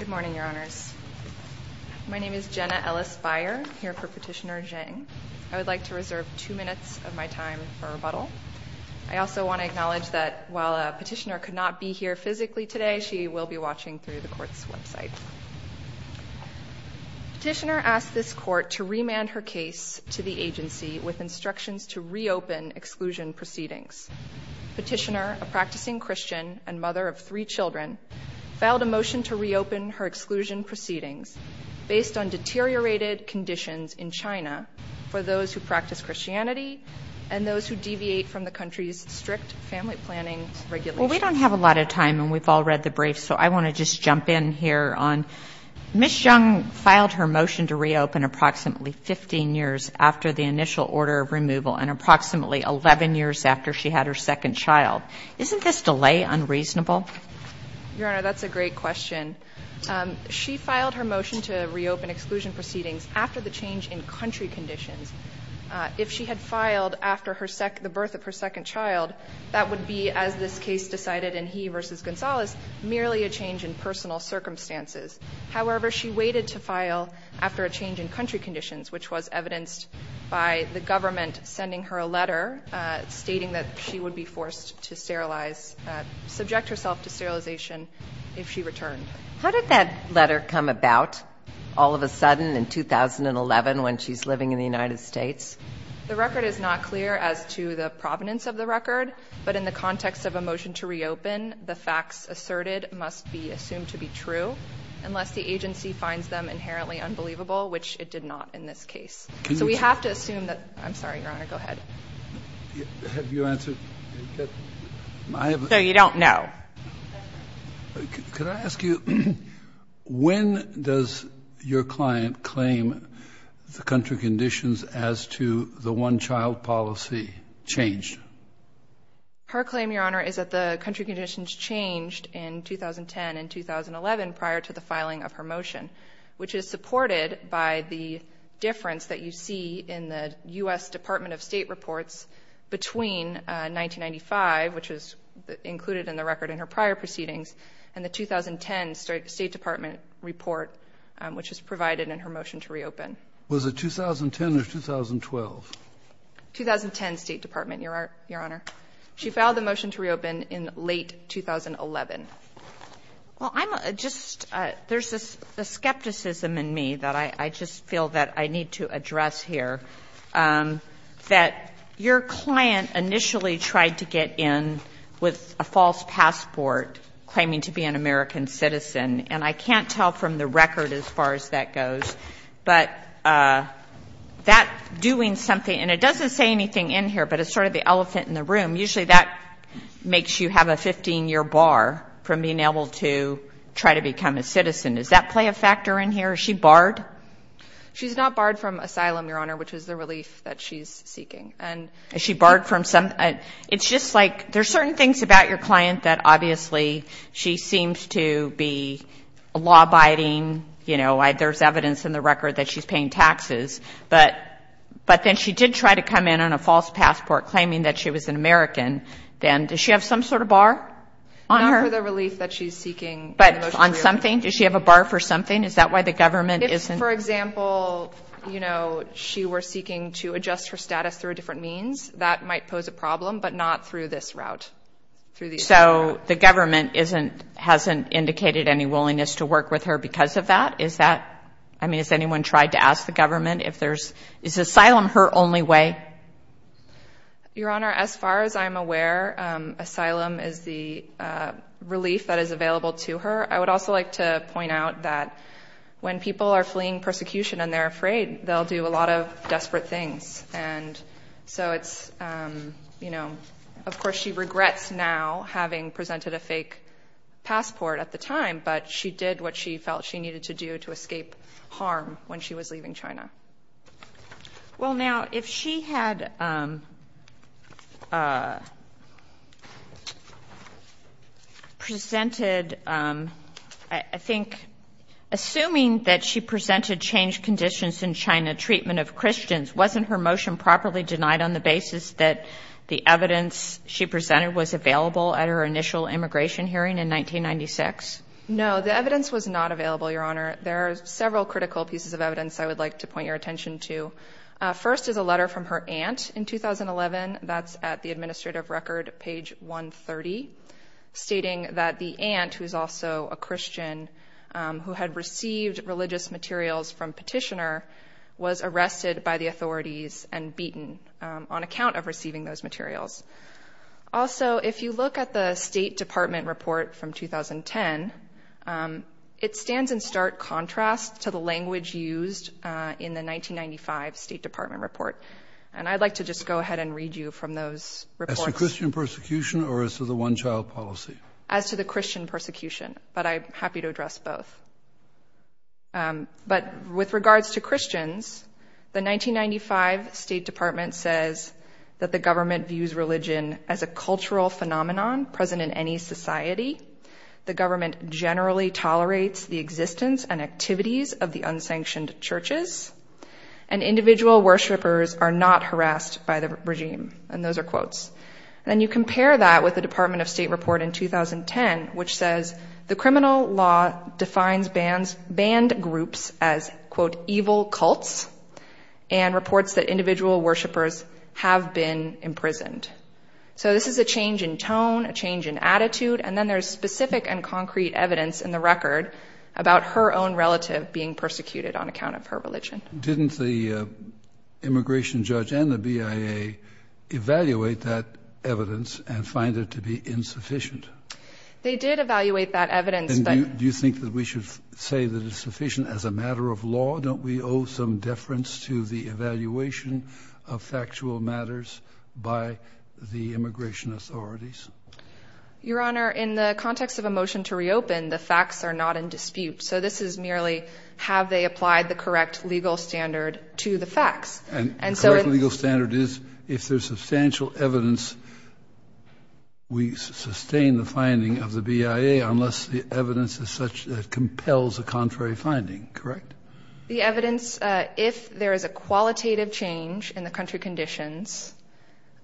Good morning, Your Honors. My name is Jenna Ellis Beyer, here for Petitioner Zheng. I would like to reserve two minutes of my time for rebuttal. I also want to acknowledge that while a petitioner could not be here physically today, she will be watching through the Court's website. Petitioner asked this Court to remand her case to the agency with instructions to reopen exclusion proceedings. Petitioner, a practicing Christian and mother of three children, filed a motion to reopen her exclusion proceedings based on deteriorated conditions in China for those who practice Christianity and those who deviate from the country's strict family planning regulations. Well, we don't have a lot of time and we've all read the brief, so I want to just jump in here on Ms. Zheng filed her motion to reopen approximately 15 years after the initial order of removal and approximately 11 years after she had her second child. Isn't this delay unreasonable? Your Honor, that's a great question. She filed her motion to reopen exclusion proceedings after the change in country conditions. If she had filed after the birth of her second child, that would be, as this case decided in he v. Gonzalez, merely a change in personal circumstances. However, she waited to file after a change in country conditions, which was evidenced by the government sending her a letter stating that she would be forced to sterilize, subject herself to sterilization if she returned. How did that letter come about all of a sudden in 2011 when she's living in the United States? The record is not clear as to the provenance of the record, but in the context of a motion to reopen, the facts asserted must be assumed to be true unless the agency finds them inherently unbelievable, which it did not in this case. So we have to assume that, I'm sorry, Your Honor, go ahead. Have you answered? So you don't know. Could I ask you, when does your client claim the country conditions as to the one-child policy changed? Her claim, Your Honor, is that the country conditions changed in 2010 and 2011 prior to the filing of her motion, which is supported by the difference that you see in the U.S. Department of State reports between 1995, which is included in the record in her prior proceedings, and the 2010 State Department report, which is provided in her motion to reopen. Was it 2010 or 2012? 2010 State Department, Your Honor. She filed the motion to reopen in late 2011. Well, I'm just, there's a skepticism in me that I just feel that I need to address here, that your client initially tried to get in with a false passport, claiming to be an American citizen, and I can't tell from the record as far as that goes, but that doing something, and it doesn't say anything in here, but it's sort of the elephant in the room, usually that makes you have a 15-year bar from being able to try to become a citizen. Does that play a factor in here? Is she barred? She's not barred from asylum, Your Honor, which is the relief that she's seeking. And is she barred from some, it's just like, there's certain things about your client that obviously she seems to be law-abiding, you know, there's evidence in the record that she's paying taxes, but then she did try to come in on a false passport, claiming that she was an American citizen. Does she have some sort of bar on her? Not for the relief that she's seeking. But on something? Does she have a bar for something? Is that why the government isn't? For example, you know, she was seeking to adjust her status through a different means, that might pose a problem, but not through this route. So the government isn't, hasn't indicated any willingness to work with her because of that? Is that, I mean, has anyone tried to ask the government if there's, is asylum her only way? Your Honor, as far as I'm aware, asylum is the relief that is available to her. I would also like to point out that when people are fleeing persecution and they're afraid, they'll do a lot of desperate things. And so it's, you know, of course she regrets now having presented a fake passport at the time, but she did what she felt she needed to do to escape harm when she was leaving China. Well, now, if she had presented, I think, assuming that she presented changed conditions in China, treatment of Christians, wasn't her motion properly denied on the basis that the evidence she presented was available at her initial immigration hearing in 1996? No, the evidence was not available, Your Honor. There are several critical pieces of evidence I would like to point your attention to. First is a letter from her aunt in 2011, that's at the administrative record, page 130, stating that the aunt, who's also a Christian, who had received religious materials from petitioner, was arrested by the authorities and beaten on account of receiving those materials. Also, if you look at the State Department report from 2010, it stands in stark contrast to the language used in the 1995 State Department report. And I'd like to just go ahead and read you from those reports. As to Christian persecution or as to the one-child policy? As to the Christian persecution, but I'm happy to address both. But with regards to Christians, the 1995 State Department says that the government views religion as a cultural phenomenon present in any society. The government generally tolerates the existence and activities of the unsanctioned churches, and individual worshipers are not harassed by the regime. And those are quotes. And then you compare that with the Department of State report in 2010, which says the criminal law defines banned groups as, quote, evil cults, and reports that individual worshipers have been imprisoned. So this is a change in tone, a change in attitude. And then there's specific and concrete evidence in the record about her own relative being persecuted on account of her religion. Didn't the immigration judge and the BIA evaluate that evidence and find it to be insufficient? They did evaluate that evidence. And do you think that we should say that it's sufficient as a matter of law? Don't we owe some deference to the evaluation of factual matters by the immigration authorities? Your Honor, in the context of a motion to reopen, the facts are not in dispute. So this is merely have they applied the correct legal standard to the facts? And the correct legal standard is if there's substantial evidence, we sustain the finding of the BIA unless the evidence is such that compels a contrary finding, correct? The evidence, if there is a qualitative change in the country conditions,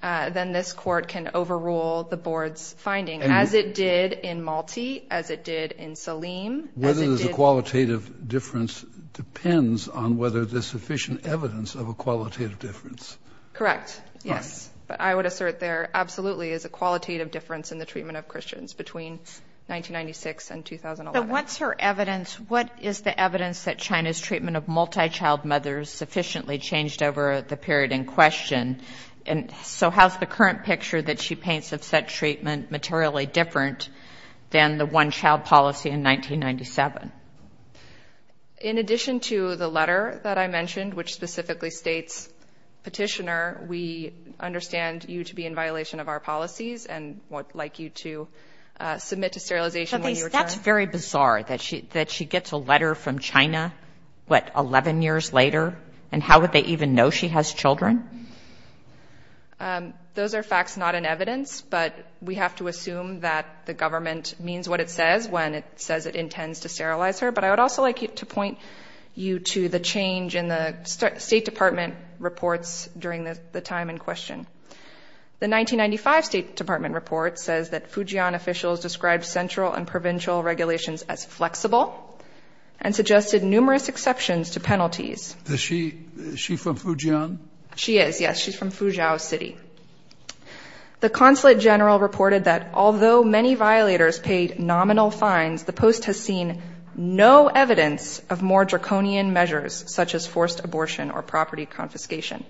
then this court can overrule the board's finding, as it did in Malti, as it did in Saleem. Whether there's a qualitative difference depends on whether there's sufficient evidence of a qualitative difference. Correct. Yes. But I would assert there absolutely is a qualitative difference in the treatment of Christians between 1996 and 2011. What's her evidence? What is the evidence that China's treatment of multi-child mothers sufficiently changed over the period in question? And so how's the current picture that she paints of such treatment materially different than the one-child policy in 1997? In addition to the letter that I mentioned, which specifically states, Petitioner, we understand you to be in violation of our policies and would like you to submit to sterilization when you return. It's very bizarre that she gets a letter from China, what, 11 years later, and how would they even know she has children? Those are facts not in evidence, but we have to assume that the government means what it says when it says it intends to sterilize her. But I would also like to point you to the change in the State Department reports during the time in question. The 1995 State Department report says that Fujian officials described central and provincial regulations as flexible and suggested numerous exceptions to penalties. Is she from Fujian? She is, yes. She's from Fuzhou City. The consulate general reported that although many violators paid nominal fines, the post has seen no evidence of more draconian measures such as forced abortion or property confiscation.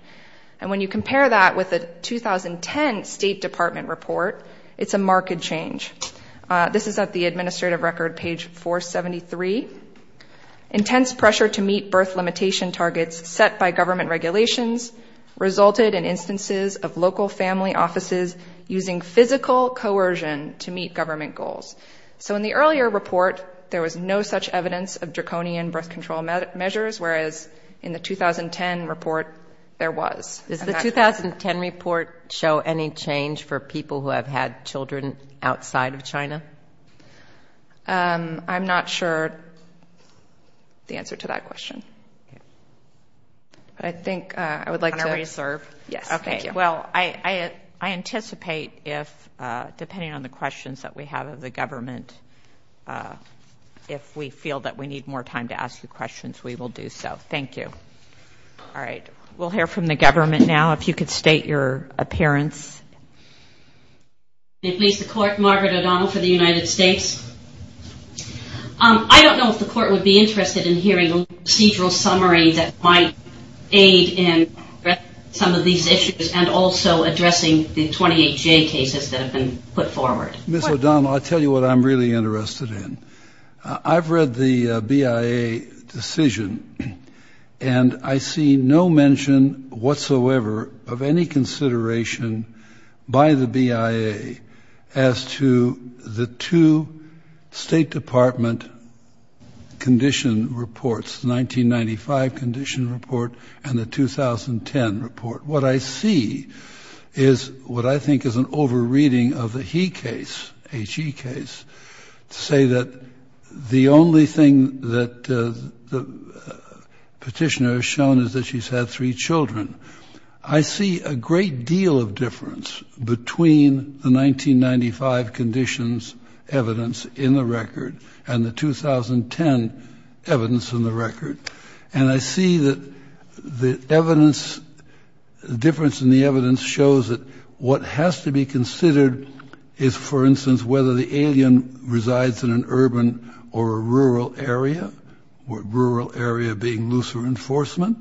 And when you compare that with the 2010 State Department report, it's a marked change. This is at the administrative record, page 473. Intense pressure to meet birth limitation targets set by government regulations resulted in instances of local family offices using physical coercion to meet government goals. So in the earlier report, there was no such evidence of draconian birth control measures, whereas in the 2010 report, there was. Does the 2010 report show any change for people who have had children outside of China? I'm not sure the answer to that question. I think I would like to reserve. Yes. Okay. Well, I anticipate if, depending on the questions that we have of the government, if we feel that we need more time to ask the questions, we will do so. Thank you. All right. We'll hear from the government now. If you could state your appearance. I don't know if the court would be interested in hearing a procedural summary that might aid in some of these issues and also addressing the 28J cases that have been put forward. Ms. O'Donnell, I'll tell you what I'm really interested in. I've read the BIA decision and I see no mention whatsoever of any consideration by the BIA as to the two State Department condition reports, 1995 condition report and the 2010 report. What I see is what I think is an over-reading of the He case, HE case, to say that the only thing that petitioner has shown is that she's had three children. I see a great deal of difference between the 1995 conditions evidence in the record and the 2010 evidence in the record. And I see that the evidence, the difference in the evidence shows that what has to be considered is, for instance, whether the alien resides in an urban or a rural area, rural area being looser enforcement,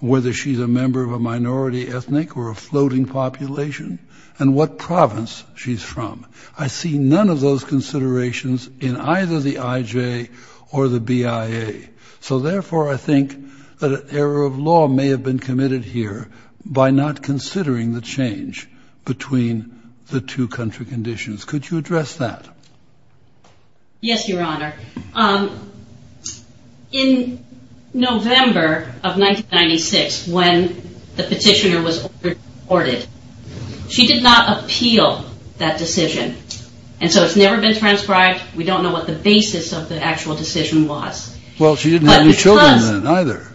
whether she's a member of a minority ethnic or a floating population, and what province she's from. I see none of those considerations in either the IJ or the BIA. So therefore, I think that an error of law may have been committed here by not considering the change between the two country conditions. Could you address that? Yes, Your Honor. In November of 1996, when the petitioner was ordered, she did not appeal that decision. And so it's never been transcribed. We don't know what the basis of the actual decision was. Well, she didn't have any children then either.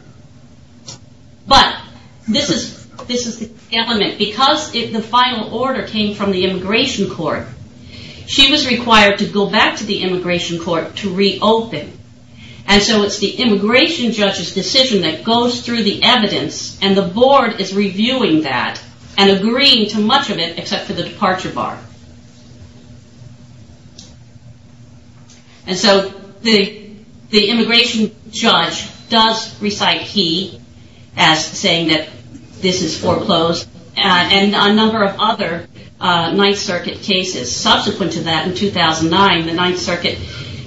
But this is the element, because the final order came from the immigration court. She was required to go back to the immigration court to reopen. And so it's the immigration judge's decision that goes through the evidence, and the board is reviewing that and agreeing to much of it except for the departure bar. And so the immigration judge does recite he as saying that this is foreclosed. And a number of other Ninth Circuit cases subsequent to that in 2009, the Ninth Circuit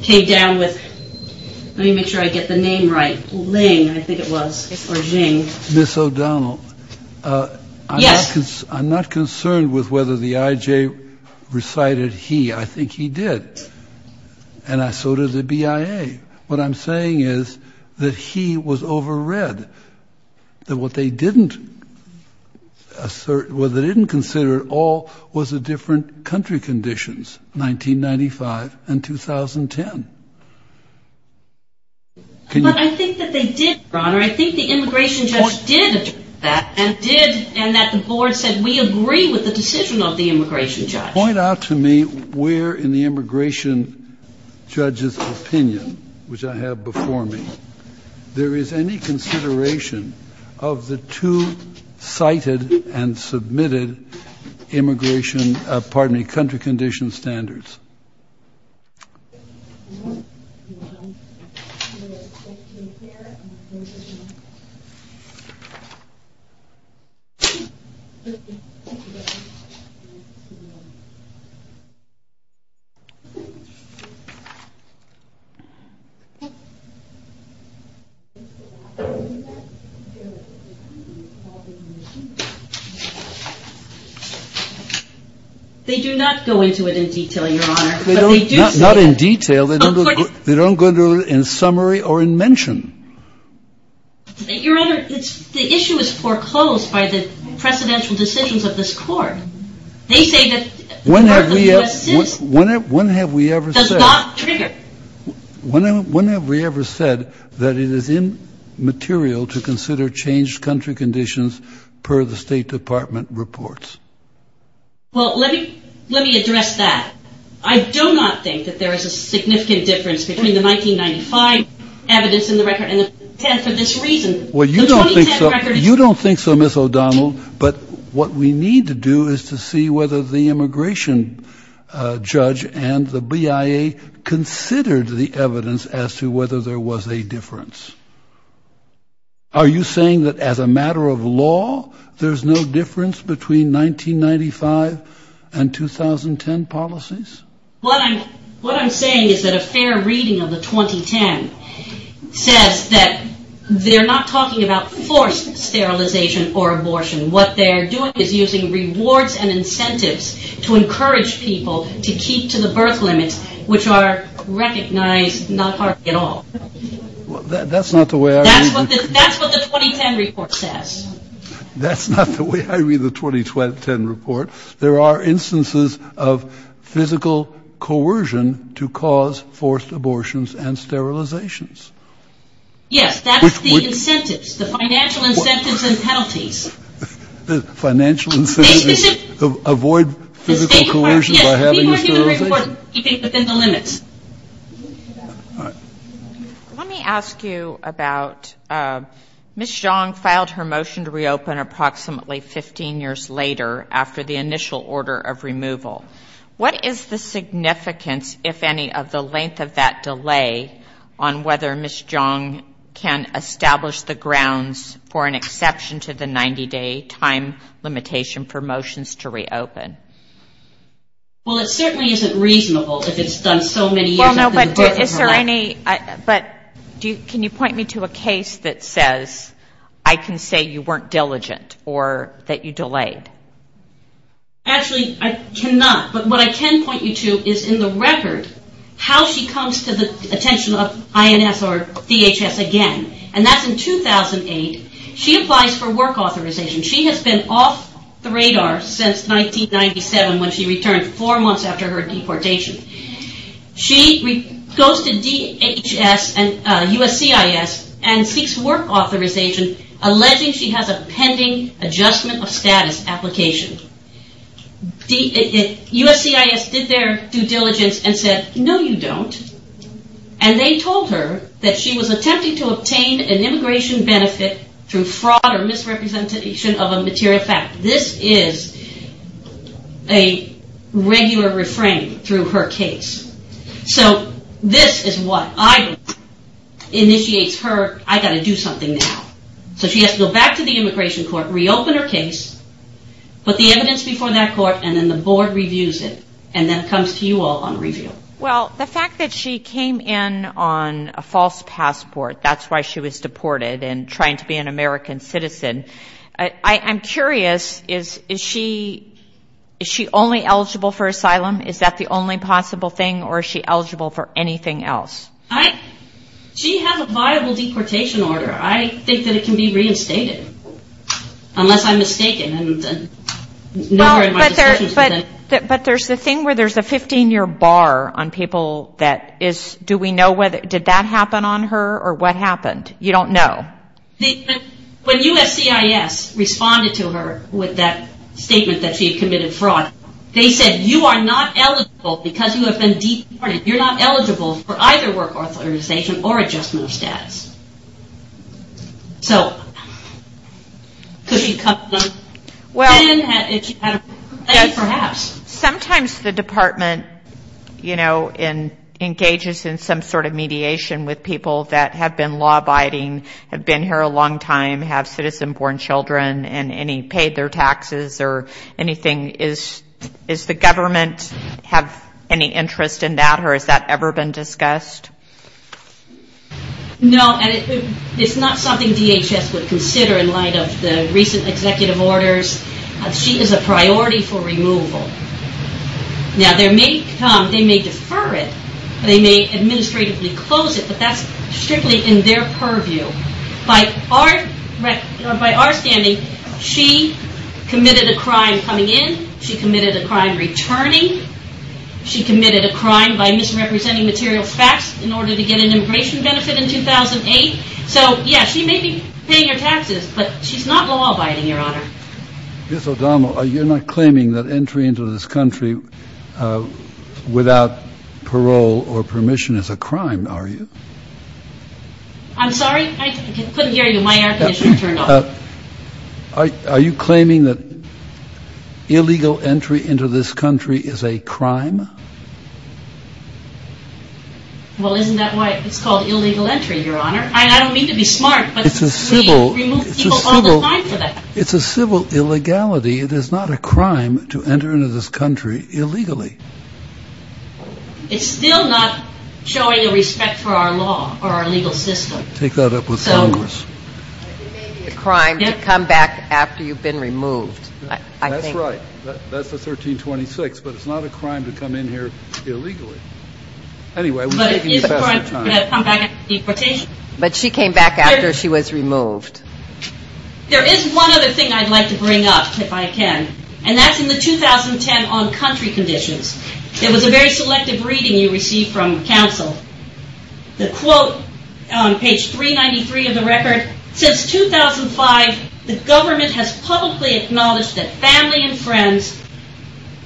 came down with, let me make sure I get the name right, Ling, I think it was, or Jing. Ms. O'Donnell. Yes. I'm not concerned with whether the IJ recited he. I think he did. And so did the BIA. What I'm saying is that he was overread, that what they didn't assert, what they didn't consider at all was the different country conditions, 1995 and 2010. But I think that they did, Your Honor. I think the immigration judge did that, and did, and that the board said, we agree with the decision of the immigration judge. Point out to me where in the immigration judge's opinion, which I have before me, there is any consideration of the two cited and submitted immigration, pardon me, country condition standards. They do not go into it in detail, Your Honor. Not in detail. They don't go into it in summary or in mention. Your Honor, the issue is foreclosed by the presidential decisions of this court. They say that the court of U.S. citizens does not trigger. When have we ever said that it is immaterial to consider changed country conditions per the State Department reports? Well, let me address that. I do not think that there is a significant difference between the 1995 evidence in the record and the 2010 for this reason. Well, you don't think so. You don't think so, Miss O'Donnell. But what we need to do is to see whether the immigration judge and the BIA considered the evidence as to whether there was a difference. Are you saying that as a matter of law, there's no difference between 1995 and 2010 policies? What I'm saying is that a fair reading of the 2010 says that they're not talking about forced sterilization or abortion. What they're doing is using rewards and incentives to encourage people to keep to the birth limits, which are recognized not hardly at all. That's not the way I read it. That's what the 2010 report says. That's not the way I read the 2010 report. There are instances of physical coercion to cause forced abortions and sterilizations. Yes, that's the incentives, the financial incentives and penalties. The financial incentives to avoid physical coercion by having a sterilization. Yes, people are doing the report keeping within the limits. Let me ask you about Miss Zhang filed her motion to reopen approximately 15 years later after the initial order of removal. What is the significance, if any, of the length of that delay on whether Miss Zhang can establish the grounds for an exception to the 90-day time limitation for motions to reopen? Well, it certainly isn't reasonable if it's done so many years after the abortion. But can you point me to a case that says, I can say you weren't diligent or that you delayed? Actually, I cannot. But what I can point you to is in the record how she comes to the attention of INS or DHS again. And that's in 2008. She applies for work authorization. She has been off the radar since 1997 when she returned four months after her deportation. She goes to DHS and USCIS and seeks work authorization, alleging she has a pending adjustment of status application. USCIS did their due diligence and said, no, you don't. And they told her that she was attempting to obtain an immigration benefit through fraud or misrepresentation of a material fact. This is a regular refrain through her case. So this is what initiates her, I got to do something now. So she has to go back to the immigration court, reopen her case, put the evidence before that court, and then the board reviews it. And then it comes to you all on review. Well, the fact that she came in on a false passport, that's why she was deported and trying to be an American citizen. I'm curious, is she only eligible for asylum? Is that the only possible thing? Or is she eligible for anything else? She has a viable deportation order. I think that it can be reinstated, unless I'm mistaken. But there's the thing where there's a 15-year bar on people that is, do we know, did that happen on her or what happened? You don't know. When USCIS responded to her with that statement that she had committed fraud, they said, you are not eligible because you have been deported. You're not eligible for either work authorization or adjustment of status. Sometimes the department engages in some sort of mediation with people that have been law-abiding, have been here a long time, have citizen-born children, and any paid their taxes or anything. Does the government have any interest in that? Or has that ever been discussed? No, and it's not something DHS would consider in light of the recent executive orders. She is a priority for removal. Now, they may defer it. They may administratively close it, but that's strictly in their purview. By our standing, she committed a crime coming in. She committed a crime returning. She committed a crime by misrepresenting material facts in order to get an immigration benefit in 2008. So yeah, she may be paying her taxes, but she's not law-abiding, Your Honor. Ms. O'Donnell, you're not claiming that entry into this country without parole or permission is a crime, are you? I'm sorry, I couldn't hear you. My air conditioning turned off. Are you claiming that illegal entry into this country is a crime? Well, isn't that why it's called illegal entry, Your Honor? I don't mean to be smart, but we remove people all the time for that. It's a civil illegality. It is not a crime to enter into this country illegally. It's still not showing a respect for our law or our legal system. Take that up with Congress. It may be a crime to come back after you've been removed, I think. That's right. That's the 1326, but it's not a crime to come in here illegally. Anyway, we're taking it past our time. But it is a crime to come back after deportation. But she came back after she was removed. There is one other thing I'd like to bring up, if I can. And that's in the 2010 on country conditions. There was a very selective reading you received from counsel. The quote on page 393 of the record, since 2005, the government has publicly acknowledged that family and friends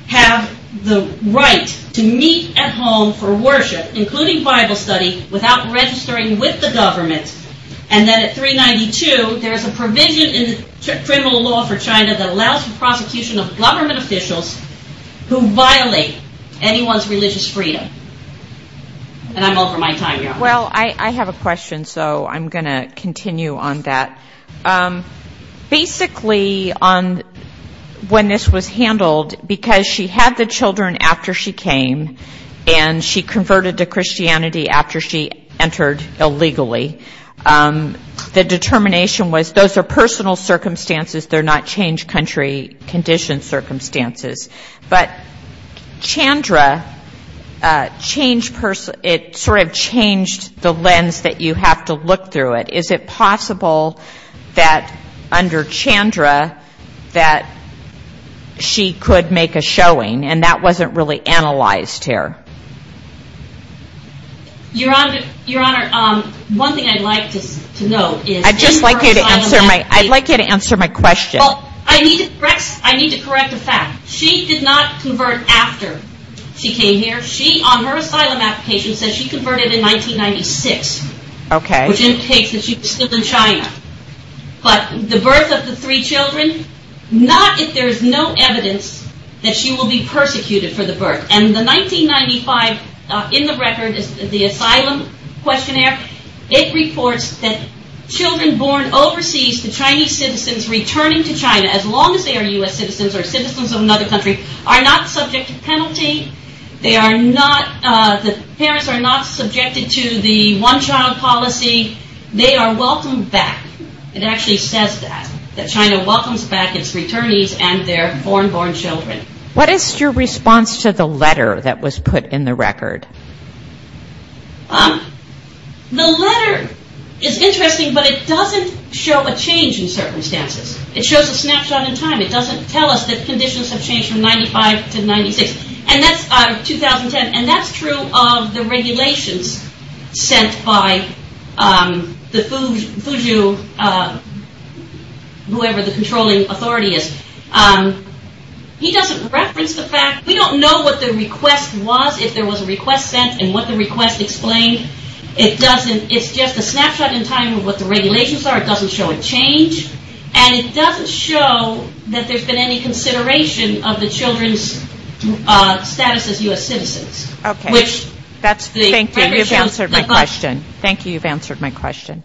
have the right to meet at home for worship, including Bible study, without registering with the government. And then at 392, there is a provision in the criminal law for China that allows the prosecution of government officials who violate anyone's religious freedom. And I'm over my time here. Well, I have a question, so I'm going to continue on that. Basically, on when this was handled, because she had the children after she came, and she converted to Christianity after she entered illegally. The determination was those are personal circumstances. They're not change country condition circumstances. But Chandra, it sort of changed the lens that you have to look through it. Is it possible that under Chandra, that she could make a showing? And that wasn't really analyzed here. Your Honor, Your Honor, one thing I'd like to know is... I'd just like you to answer my... I'd like you to answer my question. Well, I need to correct a fact. She did not convert after she came here. She, on her asylum application, says she converted in 1996. Okay. Which indicates that she was still in China. But the birth of the three children, not if there's no evidence that she will be persecuted for the birth. And the 1995, in the record, the asylum questionnaire, it reports that children born overseas to Chinese citizens returning to China, as long as they are U.S. citizens or citizens of another country, are not subject to penalty. They are not... The parents are not subjected to the one-child policy. They are welcomed back. It actually says that, that China welcomes back its returnees and their foreign-born children. What is your response to the letter that was put in the record? The letter is interesting, but it doesn't show a change in circumstances. It shows a snapshot in time. It doesn't tell us that conditions have changed from 95 to 96. And that's 2010. And that's true of the regulations sent by the Fuzhou, whoever the controlling authority is. He doesn't reference the fact... We don't know what the request was, if there was a request sent, and what the request explained. It doesn't... It's just a snapshot in time of what the regulations are. It doesn't show a change. And it doesn't show that there's been any consideration of the children's status as U.S. citizens. Okay. Thank you. You've answered my question.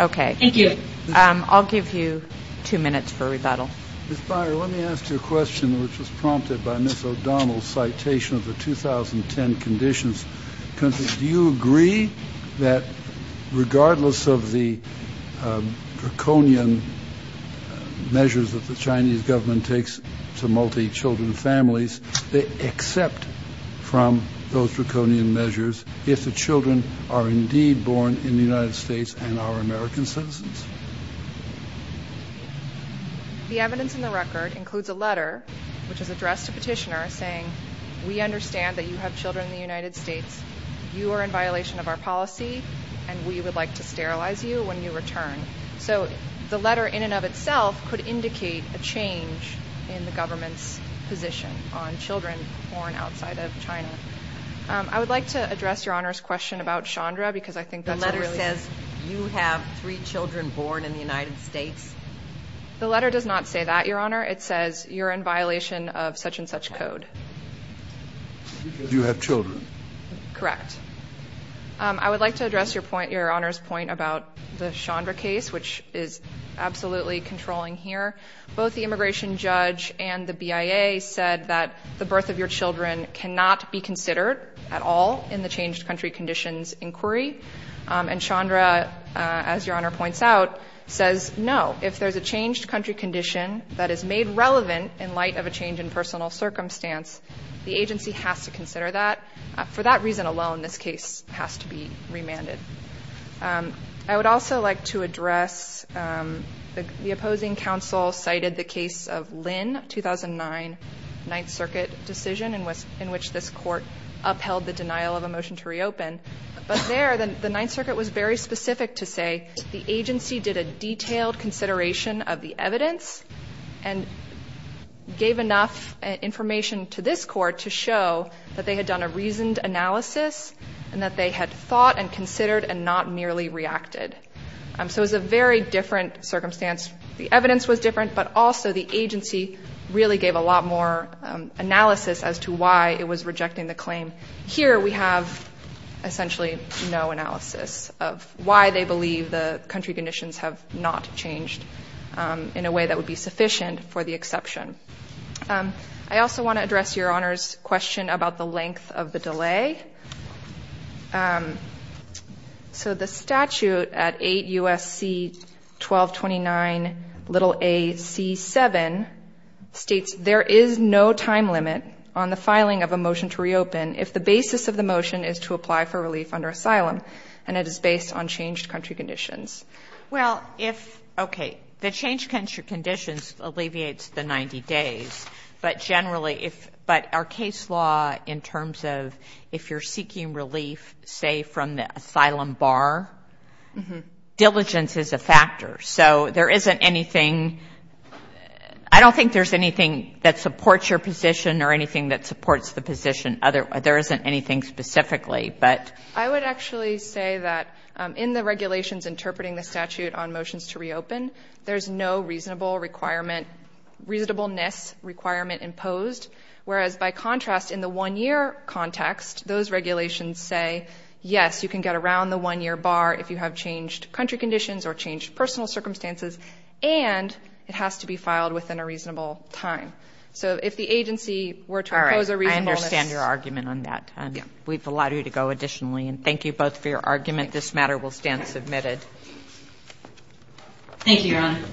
Okay. I'll give you two minutes for rebuttal. Ms. Byer, let me ask you a question, which was prompted by Ms. O'Donnell's citation of the 2010 conditions. Do you agree that regardless of the draconian measures that the Chinese government takes to multi-children families, they accept from those draconian measures if the children are indeed born in the United States and are American citizens? The evidence in the record includes a letter, which is addressed to petitioners saying, we understand that you have children in the United States, you are in violation of our policy, and we would like to sterilize you when you return. So the letter in and of itself could indicate a change in the government's position on children born outside of China. I would like to address Your Honor's question about Chandra, The letter says you have three children born in the United States, The letter does not say that, Your Honor. It says you're in violation of such and such code. Do you have children? Correct. I would like to address Your Honor's point about the Chandra case, which is absolutely controlling here. Both the immigration judge and the BIA said that the birth of your children cannot be considered at all in the changed country conditions inquiry. And Chandra, as Your Honor points out, says no. If there's a changed country condition that is made relevant in light of a change in personal circumstance, the agency has to consider that. For that reason alone, this case has to be remanded. I would also like to address, the opposing counsel cited the case of Lynn, 2009, Ninth Circuit decision in which this court upheld the denial of a motion to reopen. But there, the Ninth Circuit was very specific to say, the agency did a detailed consideration of the evidence and gave enough information to this court to show that they had done a reasoned analysis and that they had thought and considered and not merely reacted. So it was a very different circumstance. The evidence was different, but also the agency really gave a lot more analysis as to why it was rejecting the claim. Here, we have essentially no analysis of why they believe the country conditions have not changed in a way that would be sufficient for the exception. I also want to address Your Honor's question about the length of the delay. So the statute at 8 U.S.C. 1229 a.c. 7 states there is no time limit on the filing of a motion to reopen if the basis of the motion is to apply for relief under asylum and it is based on changed country conditions. Well, if, okay, the changed country conditions alleviates the 90 days, but generally if, but our case law in terms of if you're seeking relief, say from the asylum bar, diligence is a factor. So there isn't anything, I don't think there's anything that supports your position or anything that supports the position. There isn't anything specifically, but. I would actually say that in the regulations interpreting the statute on motions to reopen, there's no reasonable requirement, reasonableness requirement imposed. Whereas by contrast, in the one-year context, those regulations say, yes, you can get around the one-year bar if you have changed country conditions or changed personal circumstances and it has to be filed within a reasonable time. So if the agency were to impose a reasonableness. All right, I understand your argument on that. We've allowed you to go additionally and thank you both for your argument. Thank you, Your Honor.